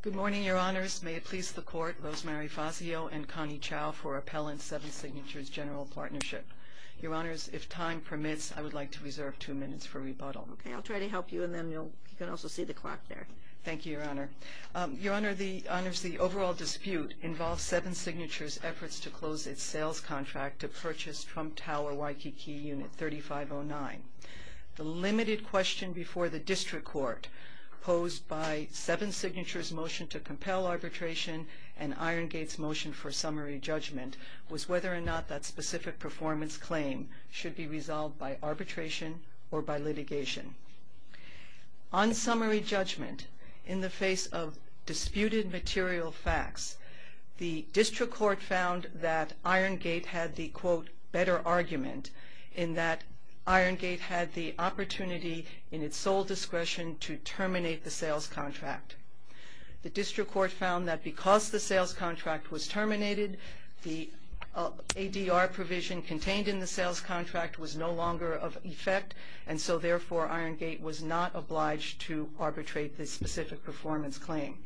Good morning, Your Honors. May it please the Court, Rosemary Fazio and Connie Chow, for Appellant Seven Signatures General Partnership. Your Honors, if time permits, I would like to reserve two minutes for rebuttal. Okay, I'll try to help you, and then you can also see the clock there. Thank you, Your Honor. Your Honor, the overall dispute involves Seven Signatures' efforts to close its sales contract to purchase Trump Tower Waikiki Unit 3509. The limited question before the District Court posed by Seven Signatures' motion to compel arbitration and Irongate's motion for summary judgment was whether or not that specific performance claim should be resolved by arbitration or by litigation. On summary judgment, in the face of disputed material facts, the District Court found that Irongate had the, quote, Irongate had the opportunity in its sole discretion to terminate the sales contract. The District Court found that because the sales contract was terminated, the ADR provision contained in the sales contract was no longer of effect, and so therefore Irongate was not obliged to arbitrate this specific performance claim.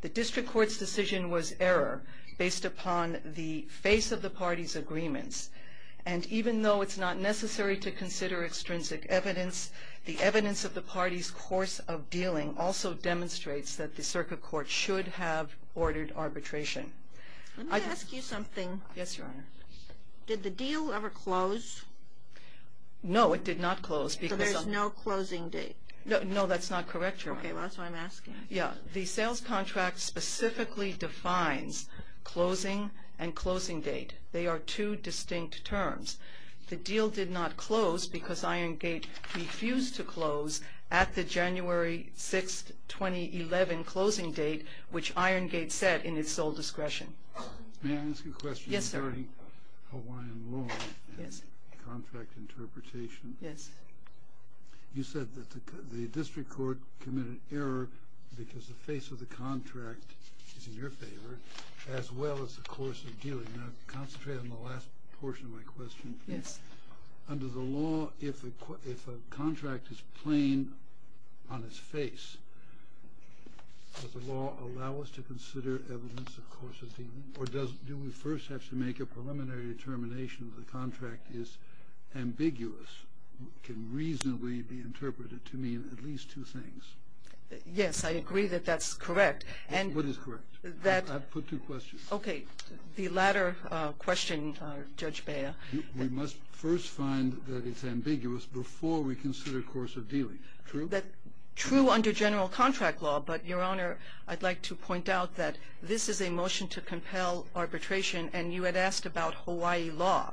The District Court's decision was error based upon the face of the parties' agreements, and even though it's not necessary to consider extrinsic evidence, the evidence of the parties' course of dealing also demonstrates that the Circuit Court should have ordered arbitration. Let me ask you something. Yes, Your Honor. Did the deal ever close? No, it did not close. So there's no closing date? No, that's not correct, Your Honor. Okay, that's what I'm asking. Yeah, the sales contract specifically defines closing and closing date. They are two distinct terms. The deal did not close because Irongate refused to close at the January 6, 2011, closing date, which Irongate set in its sole discretion. May I ask a question? Yes, sir. Regarding Hawaiian law and contract interpretation. Yes. You said that the District Court committed error because the face of the contract is in your favor, as well as the course of dealing. Now, concentrate on the last portion of my question. Yes. Under the law, if a contract is plain on its face, does the law allow us to consider evidence of course of dealing, or do we first have to make a preliminary determination that the contract is ambiguous, can reasonably be interpreted to mean at least two things? Yes, I agree that that's correct. What is correct? I've put two questions. Okay. The latter question, Judge Bea. We must first find that it's ambiguous before we consider course of dealing. True? True under general contract law, but, Your Honor, I'd like to point out that this is a motion to compel arbitration, and you had asked about Hawaii law.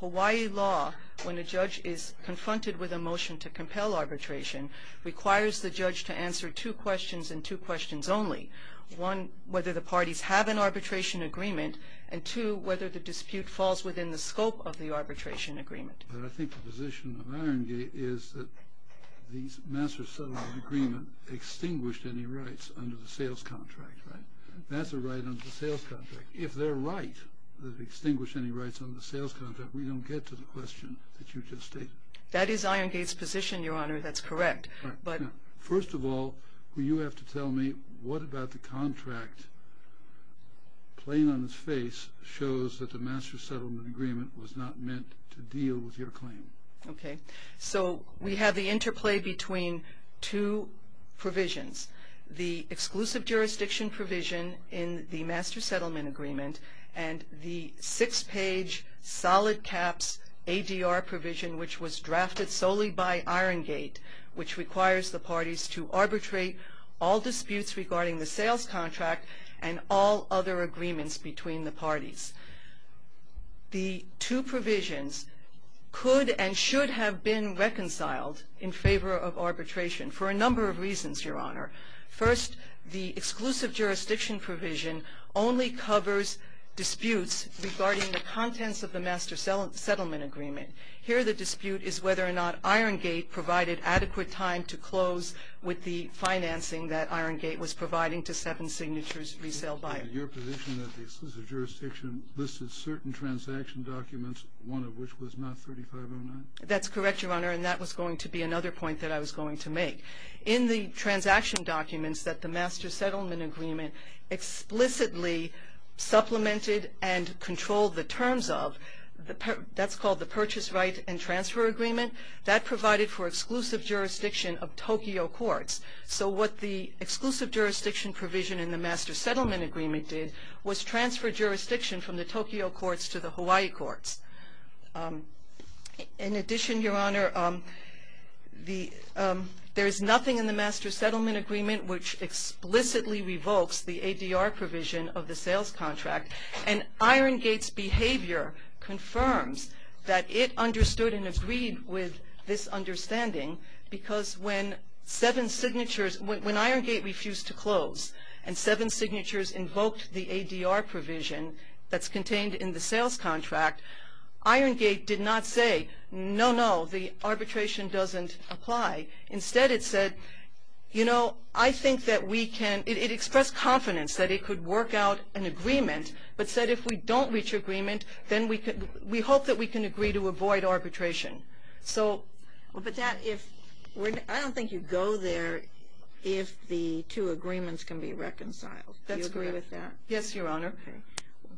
Hawaii law, when a judge is confronted with a motion to compel arbitration, requires the judge to answer two questions and two questions only. One, whether the parties have an arbitration agreement, and two, whether the dispute falls within the scope of the arbitration agreement. But I think the position of Iron Gate is that the master-settler agreement extinguished any rights under the sales contract. Right? That's a right under the sales contract. If they're right to extinguish any rights under the sales contract, we don't get to the question that you just stated. That is Iron Gate's position, Your Honor. That's correct. First of all, you have to tell me, what about the contract, plain on its face, shows that the master-settlement agreement was not meant to deal with your claim? Okay. So we have the interplay between two provisions. The exclusive jurisdiction provision in the master-settlement agreement and the six-page solid caps ADR provision, which was drafted solely by Iron Gate, which requires the parties to arbitrate all disputes regarding the sales contract and all other agreements between the parties. The two provisions could and should have been reconciled in favor of arbitration for a number of reasons, Your Honor. First, the exclusive jurisdiction provision only covers disputes regarding the contents of the master-settlement agreement. Here the dispute is whether or not Iron Gate provided adequate time to close with the financing that Iron Gate was providing to Seven Signatures Resale Buyer. Your position that the exclusive jurisdiction listed certain transaction documents, one of which was not 3509? That's correct, Your Honor, and that was going to be another point that I was going to make. In the transaction documents that the master-settlement agreement explicitly supplemented and controlled the terms of, that's called the purchase right and transfer agreement, that provided for exclusive jurisdiction of Tokyo courts. So what the exclusive jurisdiction provision in the master-settlement agreement did was transfer jurisdiction from the Tokyo courts to the Hawaii courts. In addition, Your Honor, there is nothing in the master-settlement agreement which explicitly revokes the ADR provision of the sales contract. And Iron Gate's behavior confirms that it understood and agreed with this understanding because when Seven Signatures, when Iron Gate refused to close and Seven Signatures invoked the ADR provision that's contained in the sales contract, Iron Gate did not say, no, no, the arbitration doesn't apply. Instead, it said, you know, I think that we can, it expressed confidence that it could work out an agreement, but said if we don't reach agreement, then we hope that we can agree to avoid arbitration. But that, I don't think you go there if the two agreements can be reconciled. Do you agree with that? Yes, Your Honor.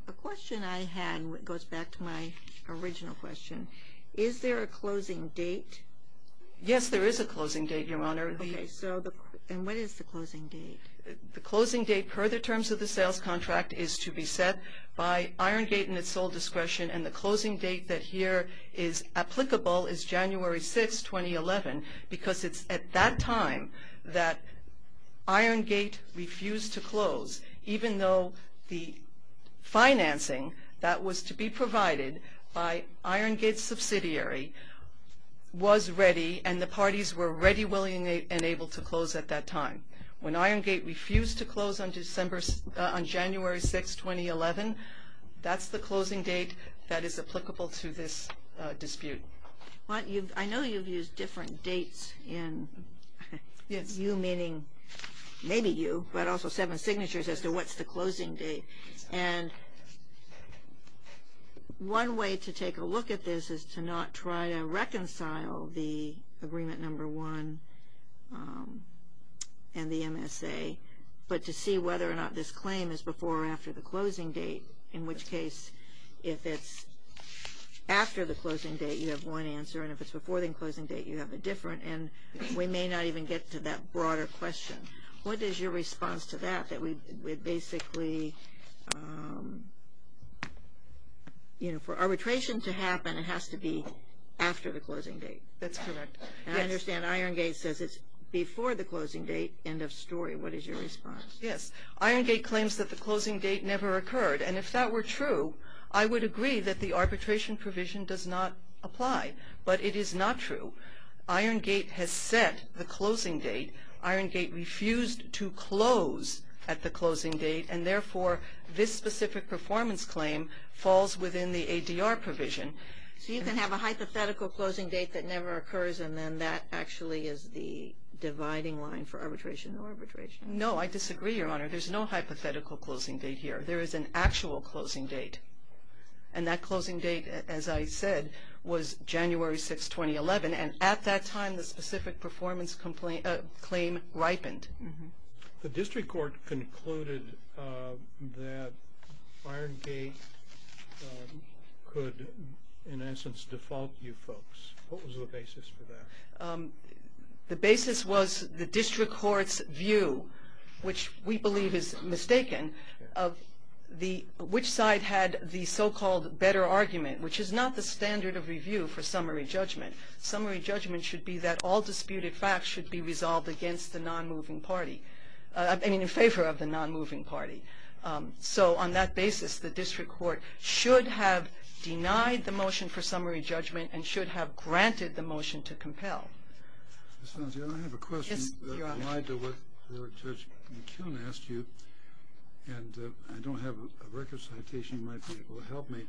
The question I had goes back to my original question. Is there a closing date? Yes, there is a closing date, Your Honor. Okay, so, and what is the closing date? The closing date per the terms of the sales contract is to be set by Iron Gate in its sole discretion and the closing date that here is applicable is January 6, 2011 because it's at that time that Iron Gate refused to close, even though the financing that was to be provided by Iron Gate's subsidiary was ready and the parties were ready, willing, and able to close at that time. When Iron Gate refused to close on January 6, 2011, that's the closing date that is applicable to this dispute. I know you've used different dates in you meaning maybe you, but also seven signatures as to what's the closing date. And one way to take a look at this is to not try to reconcile the agreement number one and the MSA, but to see whether or not this claim is before or after the closing date, in which case if it's after the closing date, you have one answer, and if it's before the closing date, you have a different, and we may not even get to that broader question. What is your response to that, that we basically, you know, for arbitration to happen it has to be after the closing date? That's correct. And I understand Iron Gate says it's before the closing date, end of story. What is your response? Yes. Iron Gate claims that the closing date never occurred, and if that were true, I would agree that the arbitration provision does not apply. But it is not true. Iron Gate has set the closing date. Iron Gate refused to close at the closing date, and therefore this specific performance claim falls within the ADR provision. So you can have a hypothetical closing date that never occurs, and then that actually is the dividing line for arbitration or arbitration. No, I disagree, Your Honor. There's no hypothetical closing date here. There is an actual closing date. And that closing date, as I said, was January 6, 2011, and at that time the specific performance claim ripened. The district court concluded that Iron Gate could, in essence, default you folks. What was the basis for that? The basis was the district court's view, which we believe is mistaken, which side had the so-called better argument, which is not the standard of review for summary judgment. Summary judgment should be that all disputed facts should be resolved against the non-moving party, I mean in favor of the non-moving party. So on that basis, the district court should have denied the motion for summary judgment and should have granted the motion to compel. Ms. Sonsia, I have a question. Yes, Your Honor. I'm reminded of what Judge McKeown asked you, and I don't have a record citation. It might be able to help me.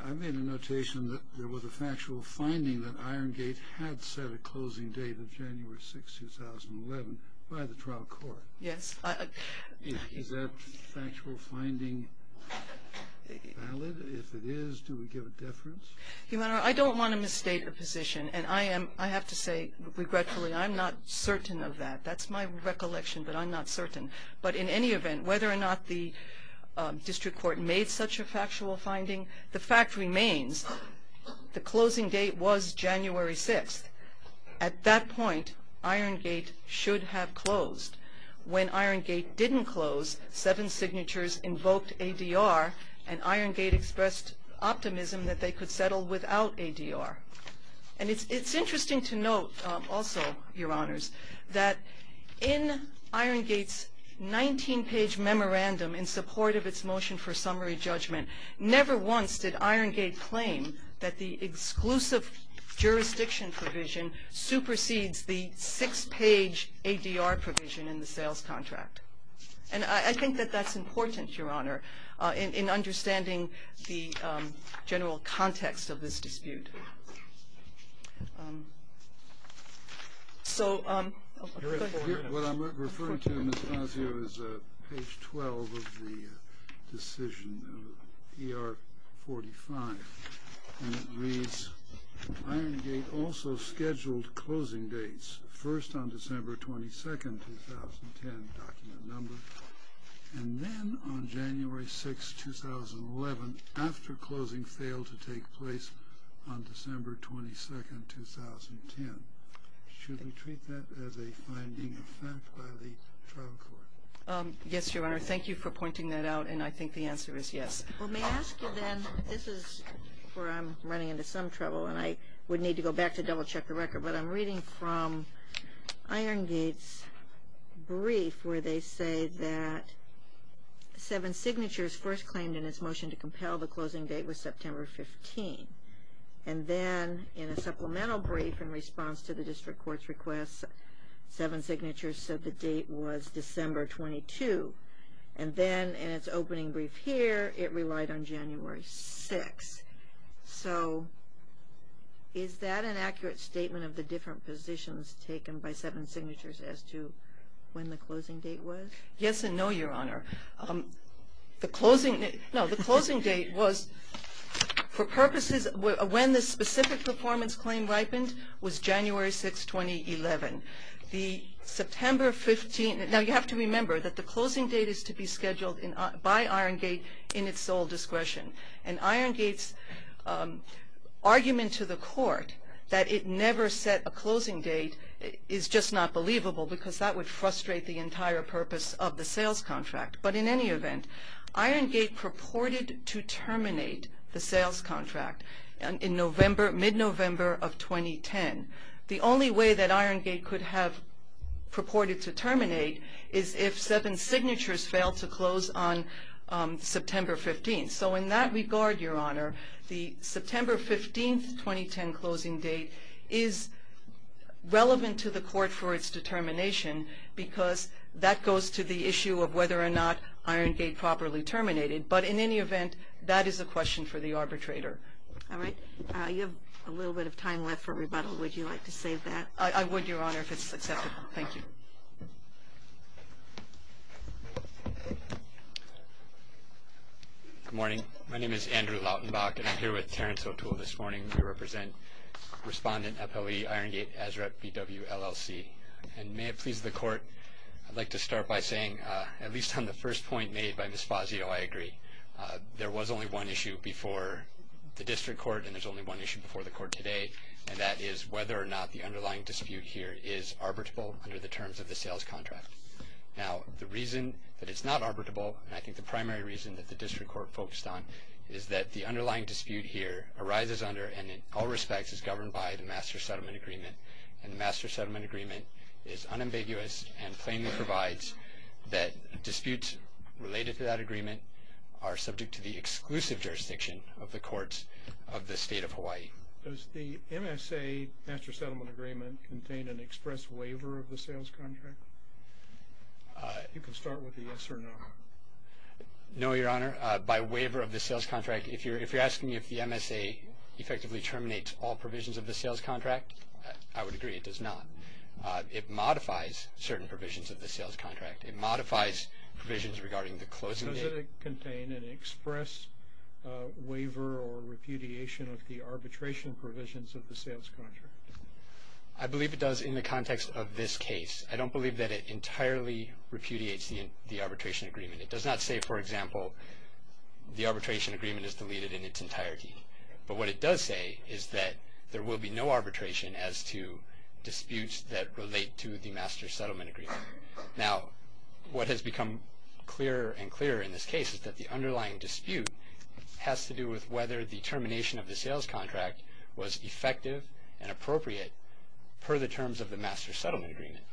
I made a notation that there was a factual finding that Iron Gate had set a closing date of January 6, 2011 by the trial court. Yes. Is that factual finding valid? If it is, do we give it deference? Your Honor, I don't want to misstate a position, and I have to say, regretfully, I'm not certain of that. That's my recollection, but I'm not certain. But in any event, whether or not the district court made such a factual finding, the fact remains, the closing date was January 6. At that point, Iron Gate should have closed. When Iron Gate didn't close, seven signatures invoked ADR, and Iron Gate expressed optimism that they could settle without ADR. And it's interesting to note, also, Your Honors, that in Iron Gate's 19-page memorandum, in support of its motion for summary judgment, never once did Iron Gate claim that the exclusive jurisdiction provision supersedes the six-page ADR provision in the sales contract. And I think that that's important, Your Honor, in understanding the general context of this dispute. What I'm referring to, Ms. Fazio, is page 12 of the decision, ER 45, and it reads, Iron Gate also scheduled closing dates, first on December 22, 2010, document number, and then on January 6, 2011, after closing failed to take place on December 22, 2010. Should we treat that as a finding of fact by the trial court? Yes, Your Honor, thank you for pointing that out, and I think the answer is yes. Well, may I ask you then, this is where I'm running into some trouble, and I would need to go back to double-check the record, but I'm reading from Iron Gate's brief where they say that seven signatures first claimed in its motion to compel the closing date was September 15. And then, in a supplemental brief in response to the district court's request, seven signatures said the date was December 22. And then, in its opening brief here, it relied on January 6. So, is that an accurate statement of the different positions taken by seven signatures as to when the closing date was? Yes and no, Your Honor. The closing date was, for purposes, when the specific performance claim ripened, was January 6, 2011. Now, you have to remember that the closing date is to be scheduled by Iron Gate in its sole discretion. And Iron Gate's argument to the court that it never set a closing date is just not believable because that would frustrate the entire purpose of the sales contract. But, in any event, Iron Gate purported to terminate the sales contract in mid-November of 2010. The only way that Iron Gate could have purported to terminate is if seven signatures failed to close on September 15. So, in that regard, Your Honor, the September 15, 2010 closing date is relevant to the court for its determination because that goes to the issue of whether or not Iron Gate properly terminated. But, in any event, that is a question for the arbitrator. All right. You have a little bit of time left for rebuttal. Would you like to say that? I would, Your Honor, if it's acceptable. Thank you. Good morning. My name is Andrew Lautenbach, and I'm here with Terrence O'Toole this morning. We represent Respondent, FLE, Iron Gate, ASREP, BW, LLC. And may it please the court, I'd like to start by saying, at least on the first point made by Ms. Fazio, I agree. There was only one issue before the district court, and there's only one issue before the court today, and that is whether or not the underlying dispute here is arbitrable under the terms of the sales contract. Now, the reason that it's not arbitrable, and I think the primary reason that the district court focused on, is that the underlying dispute here arises under and, in all respects, is governed by the Master Settlement Agreement. And the Master Settlement Agreement is unambiguous and plainly provides that disputes related to that agreement are subject to the exclusive jurisdiction of the courts of the State of Hawaii. Does the MSA Master Settlement Agreement contain an express waiver of the sales contract? You can start with a yes or no. No, Your Honor. By waiver of the sales contract, if you're asking if the MSA effectively terminates all provisions of the sales contract, I would agree it does not. It modifies certain provisions of the sales contract. It modifies provisions regarding the closing date. Does it contain an express waiver or repudiation of the arbitration provisions of the sales contract? I believe it does in the context of this case. I don't believe that it entirely repudiates the arbitration agreement. It does not say, for example, the arbitration agreement is deleted in its entirety. But what it does say is that there will be no arbitration as to disputes that relate to the Master Settlement Agreement. Now, what has become clearer and clearer in this case is that the underlying dispute has to do with whether the termination of the sales contract was effective and appropriate per the terms of the Master Settlement Agreement.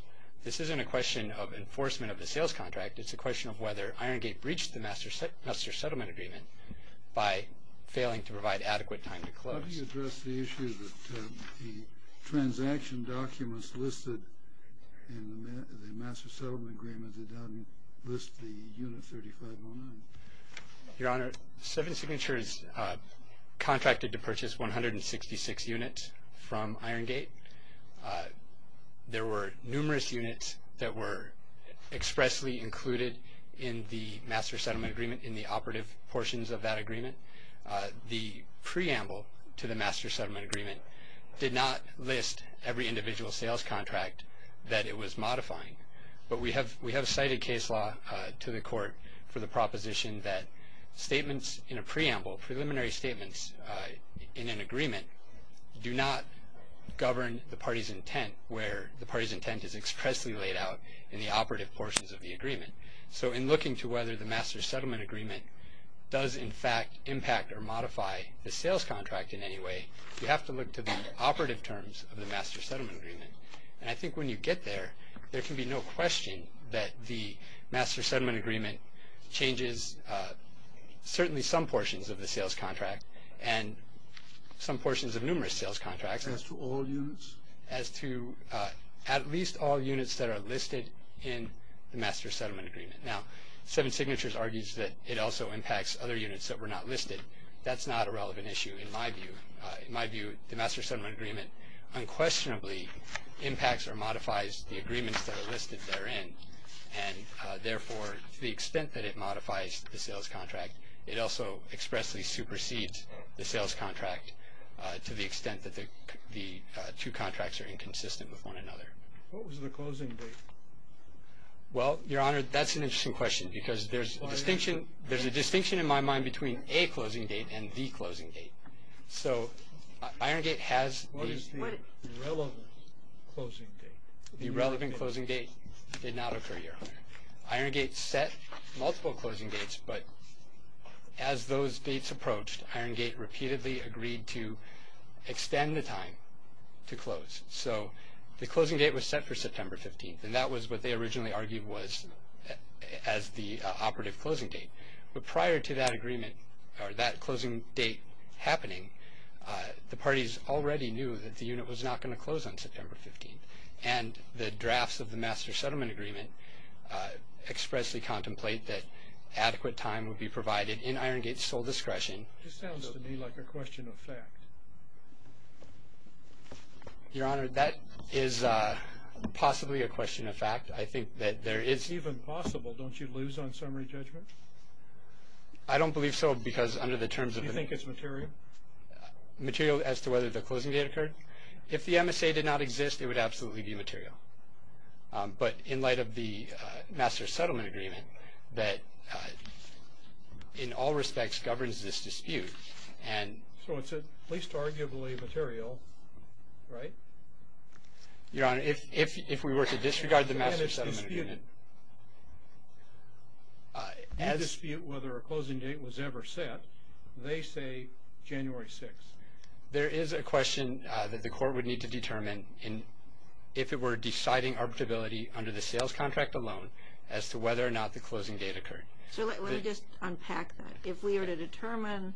This isn't a question of enforcement of the sales contract. It's a question of whether Iron Gate breached the Master Settlement Agreement by failing to provide adequate time to close. How do you address the issue that the transaction documents listed in the Master Settlement Agreement, they don't list the unit 3509? Your Honor, Seven Signatures contracted to purchase 166 units from Iron Gate. There were numerous units that were expressly included in the Master Settlement Agreement, in the operative portions of that agreement. The preamble to the Master Settlement Agreement did not list every individual sales contract that it was modifying. But we have cited case law to the Court for the proposition that statements in a preamble, preliminary statements in an agreement, do not govern the party's intent, where the party's intent is expressly laid out in the operative portions of the agreement. So in looking to whether the Master Settlement Agreement does, in fact, impact or modify the sales contract in any way, you have to look to the operative terms of the Master Settlement Agreement. And I think when you get there, there can be no question that the Master Settlement Agreement changes certainly some portions of the sales contract and some portions of numerous sales contracts. As to all units? As to at least all units that are listed in the Master Settlement Agreement. Now, Seven Signatures argues that it also impacts other units that were not listed. That's not a relevant issue in my view. In my view, the Master Settlement Agreement unquestionably impacts or modifies the agreements that are listed therein. And therefore, to the extent that it modifies the sales contract, it also expressly supersedes the sales contract to the extent that the two contracts are inconsistent with one another. What was the closing date? Well, Your Honor, that's an interesting question, because there's a distinction in my mind between a closing date and the closing date. So Iron Gate has the... What is the relevant closing date? The relevant closing date did not occur, Your Honor. Iron Gate set multiple closing dates, but as those dates approached, Iron Gate repeatedly agreed to extend the time to close. So the closing date was set for September 15th, and that was what they originally argued was as the operative closing date. But prior to that agreement or that closing date happening, the parties already knew that the unit was not going to close on September 15th. And the drafts of the Master Settlement Agreement expressly contemplate that adequate time would be provided in Iron Gate's sole discretion. This sounds to me like a question of fact. Your Honor, that is possibly a question of fact. I think that there is... It's even possible. Don't you lose on summary judgment? I don't believe so, because under the terms of the... Do you think it's material? Material as to whether the closing date occurred? If the MSA did not exist, it would absolutely be material. But in light of the Master Settlement Agreement that in all respects governs this dispute and... So it's at least arguably material, right? Your Honor, if we were to disregard the Master Settlement Agreement... And if you dispute whether a closing date was ever set, they say January 6th. There is a question that the Court would need to determine if it were deciding arbitrability under the sales contract alone as to whether or not the closing date occurred. So let me just unpack that. If we were to determine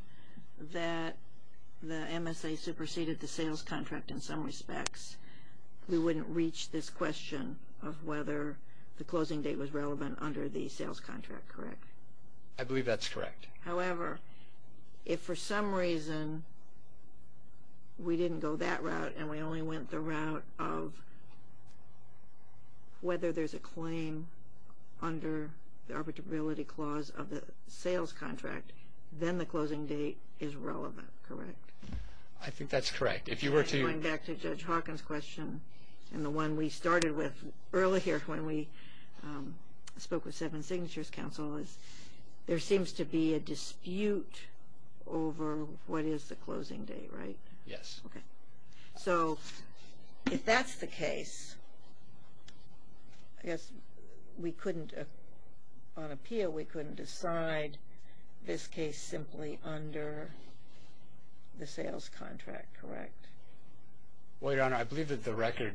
that the MSA superseded the sales contract in some respects, we wouldn't reach this question of whether the closing date was relevant under the sales contract, correct? I believe that's correct. However, if for some reason we didn't go that route and we only went the route of whether there's a claim under the arbitrability clause of the sales contract, then the closing date is relevant, correct? I think that's correct. If you were to... Going back to Judge Hawkins' question and the one we started with earlier when we spoke with Seven Signatures Counsel is there seems to be a dispute over what is the closing date, right? Yes. Okay. So if that's the case, I guess we couldn't... On appeal, we couldn't decide this case simply under the sales contract, correct? Well, Your Honor, I believe that the record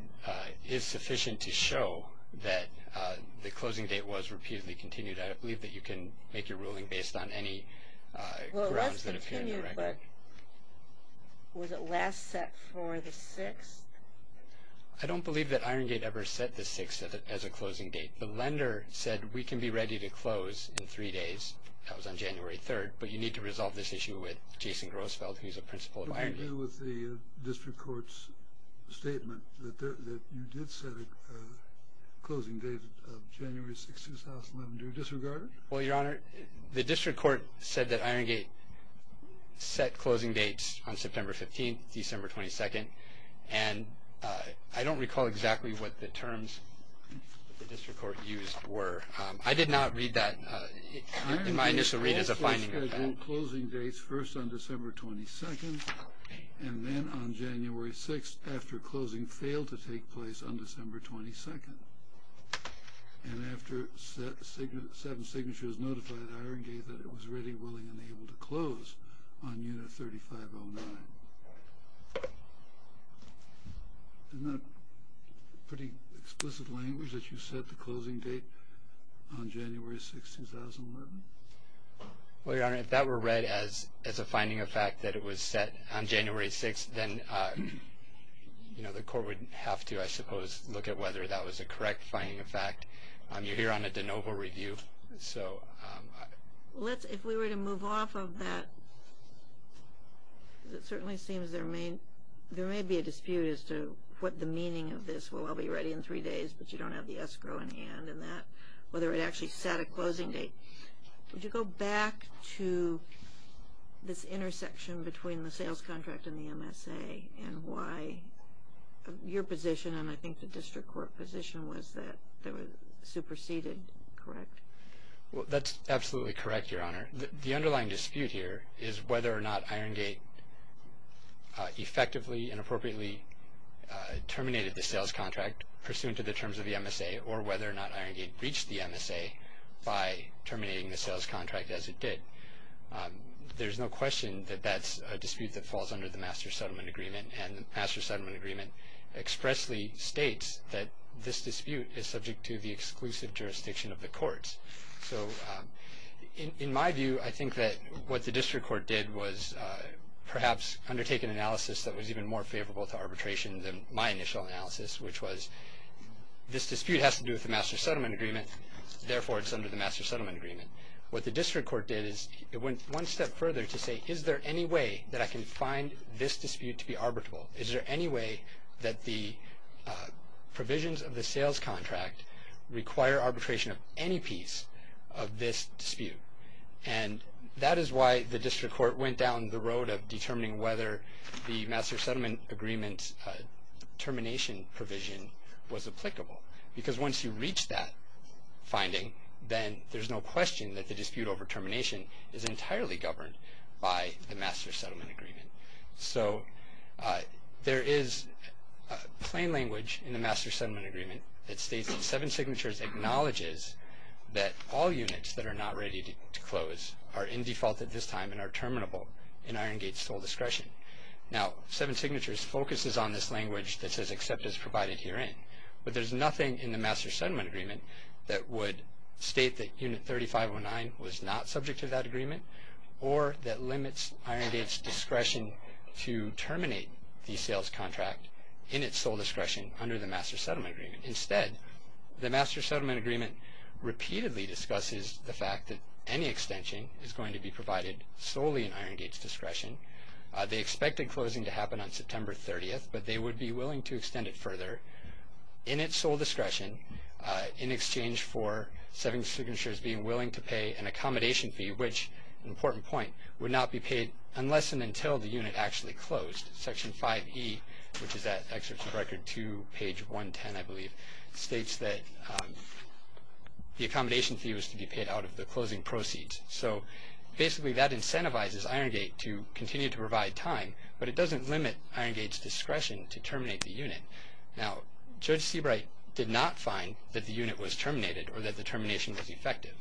is sufficient to show that the closing date was repeatedly continued. I believe that you can make your ruling based on any grounds that appear in the record. Well, it was continued, but was it last set for the 6th? I don't believe that Iron Gate ever set the 6th as a closing date. The lender said we can be ready to close in three days. That was on January 3rd. But you need to resolve this issue with Jason Grossfeld, who's a principal of Iron Gate. What did you do with the district court's statement that you did set a closing date of January 6th, 2011? Do you disregard it? Well, Your Honor, the district court said that Iron Gate set closing dates on September 15th, December 22nd, and I don't recall exactly what the terms that the district court used were. I did not read that in my initial read as a finding of that. You set closing dates first on December 22nd, and then on January 6th after closing failed to take place on December 22nd, and after seven signatures notified Iron Gate that it was ready, willing, and able to close on Unit 3509. Isn't that pretty explicit language that you set the closing date on January 6th, 2011? Well, Your Honor, if that were read as a finding of fact that it was set on January 6th, then the court would have to, I suppose, look at whether that was a correct finding of fact. You're here on a de novo review, so. If we were to move off of that, it certainly seems there may be a dispute as to what the meaning of this, well, I'll be ready in three days, but you don't have the escrow in hand, whether it actually set a closing date. Would you go back to this intersection between the sales contract and the MSA and why your position and I think the district court position was that they were superseded, correct? Well, that's absolutely correct, Your Honor. The underlying dispute here is whether or not Iron Gate effectively and appropriately terminated the sales contract pursuant to the terms of the MSA or whether or not Iron Gate breached the MSA by terminating the sales contract as it did. There's no question that that's a dispute that falls under the Master Settlement Agreement, and the Master Settlement Agreement expressly states that this dispute is subject to the exclusive jurisdiction of the courts. So in my view, I think that what the district court did was perhaps undertake an analysis that was even more favorable to arbitration than my initial analysis, which was this dispute has to do with the Master Settlement Agreement. Therefore, it's under the Master Settlement Agreement. What the district court did is it went one step further to say, is there any way that I can find this dispute to be arbitrable? Is there any way that the provisions of the sales contract require arbitration of any piece of this dispute? And that is why the district court went down the road of determining whether the Master Settlement Agreement termination provision was applicable, because once you reach that finding, then there's no question that the dispute over termination is entirely governed by the Master Settlement Agreement. So there is plain language in the Master Settlement Agreement that states that seven signatures acknowledges that all units that are not ready to close are in default at this time and are terminable in Iron Gate's sole discretion. Now, seven signatures focuses on this language that says except as provided herein, but there's nothing in the Master Settlement Agreement that would state that Unit 3509 was not subject to that agreement or that limits Iron Gate's discretion to terminate the sales contract in its sole discretion under the Master Settlement Agreement. Instead, the Master Settlement Agreement repeatedly discusses the fact that any extension is going to be provided solely in Iron Gate's discretion. They expected closing to happen on September 30th, but they would be willing to extend it further in its sole discretion in exchange for seven signatures being willing to pay an accommodation fee, which, an important point, would not be paid unless and until the unit actually closed. Section 5E, which is that excerpt from Record 2, page 110, I believe, states that the accommodation fee was to be paid out of the closing proceeds. So basically that incentivizes Iron Gate to continue to provide time, but it doesn't limit Iron Gate's discretion to terminate the unit. Now, Judge Seabright did not find that the unit was terminated or that the termination was effective.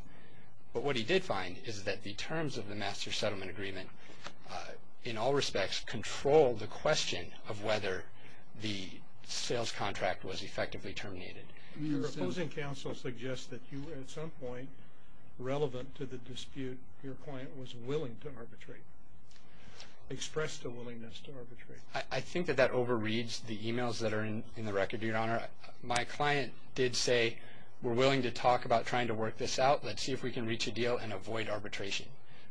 But what he did find is that the terms of the Master Settlement Agreement, in all respects, control the question of whether the sales contract was effectively terminated. Your opposing counsel suggests that you, at some point, relevant to the dispute, your client was willing to arbitrate, expressed a willingness to arbitrate. I think that that overreads the emails that are in the record, Your Honor. My client did say, we're willing to talk about trying to work this out. Let's see if we can reach a deal and avoid arbitration.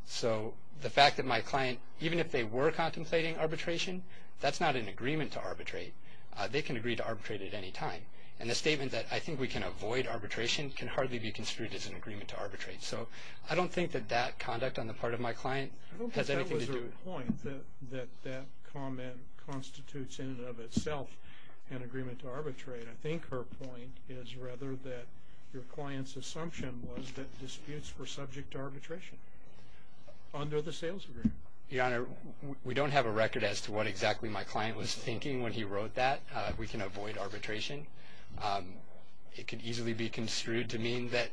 So the fact that my client, even if they were contemplating arbitration, that's not an agreement to arbitrate. They can agree to arbitrate at any time. And the statement that, I think we can avoid arbitration, can hardly be construed as an agreement to arbitrate. So I don't think that that conduct on the part of my client has anything to do with it. That comment constitutes in and of itself an agreement to arbitrate. I think her point is rather that your client's assumption was that disputes were subject to arbitration under the sales agreement. Your Honor, we don't have a record as to what exactly my client was thinking when he wrote that. We can avoid arbitration. It could easily be construed to mean that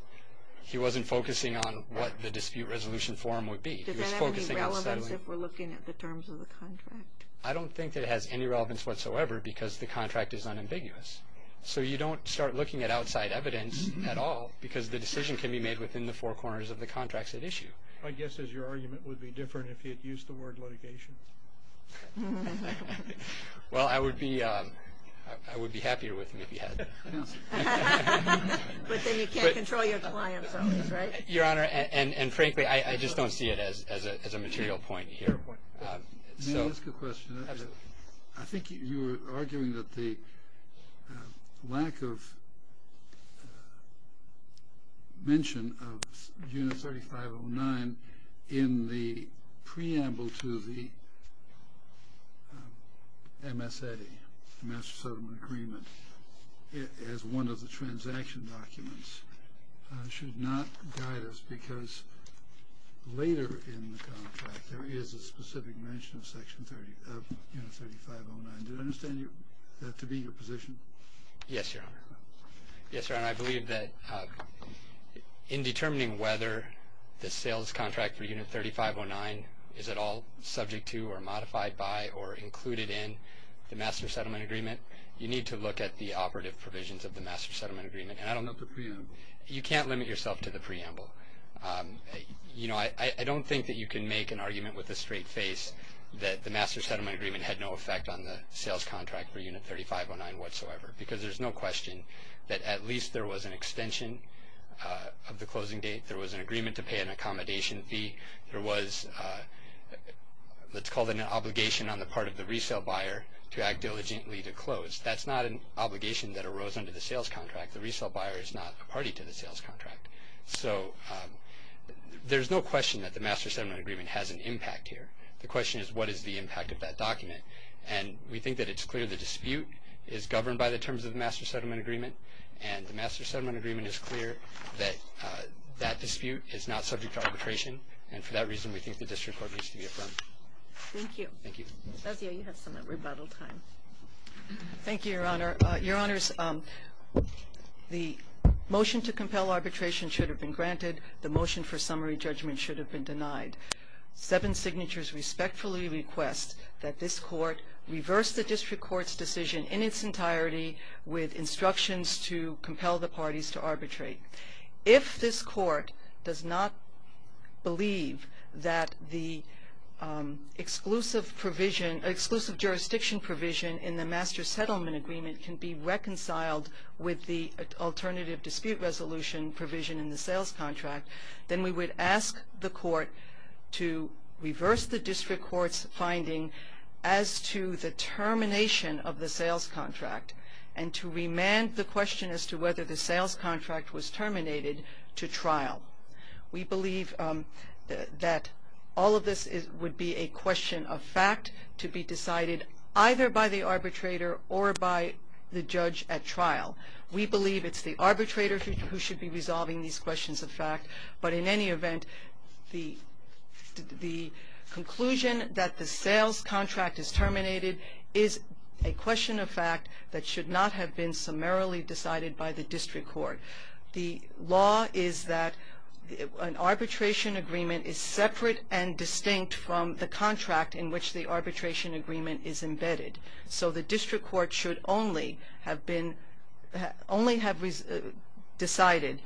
he wasn't focusing on what the dispute resolution form would be. Does that have any relevance if we're looking at the terms of the contract? I don't think that it has any relevance whatsoever because the contract is unambiguous. So you don't start looking at outside evidence at all because the decision can be made within the four corners of the contracts at issue. My guess is your argument would be different if he had used the word litigation. Well, I would be happier with him if he had. But then you can't control your client's own, right? Your Honor, and frankly, I just don't see it as a material point here. May I ask a question? Absolutely. I think you were arguing that the lack of mention of Unit 3509 in the preamble to the MS-80 Master Settlement Agreement as one of the transaction documents should not guide us because later in the contract there is a specific mention of Unit 3509. Do I understand that to be your position? Yes, Your Honor. Yes, Your Honor. I believe that in determining whether the sales contract for Unit 3509 is at all subject to or modified by or included in the Master Settlement Agreement, you need to look at the operative provisions of the Master Settlement Agreement. And I don't know if the preamble. You can't limit yourself to the preamble. You know, I don't think that you can make an argument with a straight face that the Master Settlement Agreement had no effect on the sales contract for Unit 3509 whatsoever because there's no question that at least there was an extension of the closing date. There was an agreement to pay an accommodation fee. There was, let's call it an obligation on the part of the resale buyer to act diligently to close. That's not an obligation that arose under the sales contract. The resale buyer is not a party to the sales contract. So there's no question that the Master Settlement Agreement has an impact here. The question is what is the impact of that document. And we think that it's clear the dispute is governed by the terms of the Master Settlement Agreement. And the Master Settlement Agreement is clear that that dispute is not subject to arbitration. And for that reason, we think the district court needs to be affirmed. Thank you. Thank you. Fazio, you have some rebuttal time. Thank you, Your Honor. Your Honors, the motion to compel arbitration should have been granted. The motion for summary judgment should have been denied. Seven signatures respectfully request that this court reverse the district court's decision in its entirety with instructions to compel the parties to arbitrate. If this court does not believe that the exclusive jurisdiction provision in the Master Settlement Agreement can be reconciled with the alternative dispute resolution provision in the sales contract, then we would ask the court to reverse the district court's finding as to the termination of the sales contract and to remand the question as to whether the sales contract was terminated to trial. We believe that all of this would be a question of fact to be decided either by the arbitrator or by the judge at trial. We believe it's the arbitrator who should be resolving these questions of fact. But in any event, the conclusion that the sales contract is terminated is a question of fact that should not have been summarily decided by the district court. The law is that an arbitration agreement is separate and distinct from the contract in which the arbitration agreement is embedded. So the district court should only have decided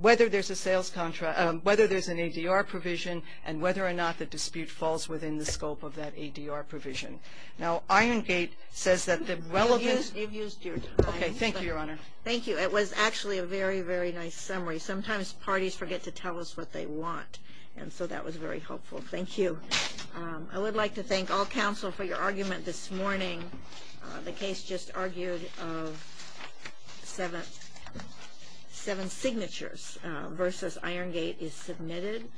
whether there's an ADR provision and whether or not the dispute falls within the scope of that ADR provision. Now Iron Gate says that the relevance... You've used your time. Okay, thank you, Your Honor. Thank you. It was actually a very, very nice summary. Sometimes parties forget to tell us what they want, and so that was very helpful. Thank you. I would like to thank all counsel for your argument this morning. The case just argued of seven signatures versus Iron Gate is submitted.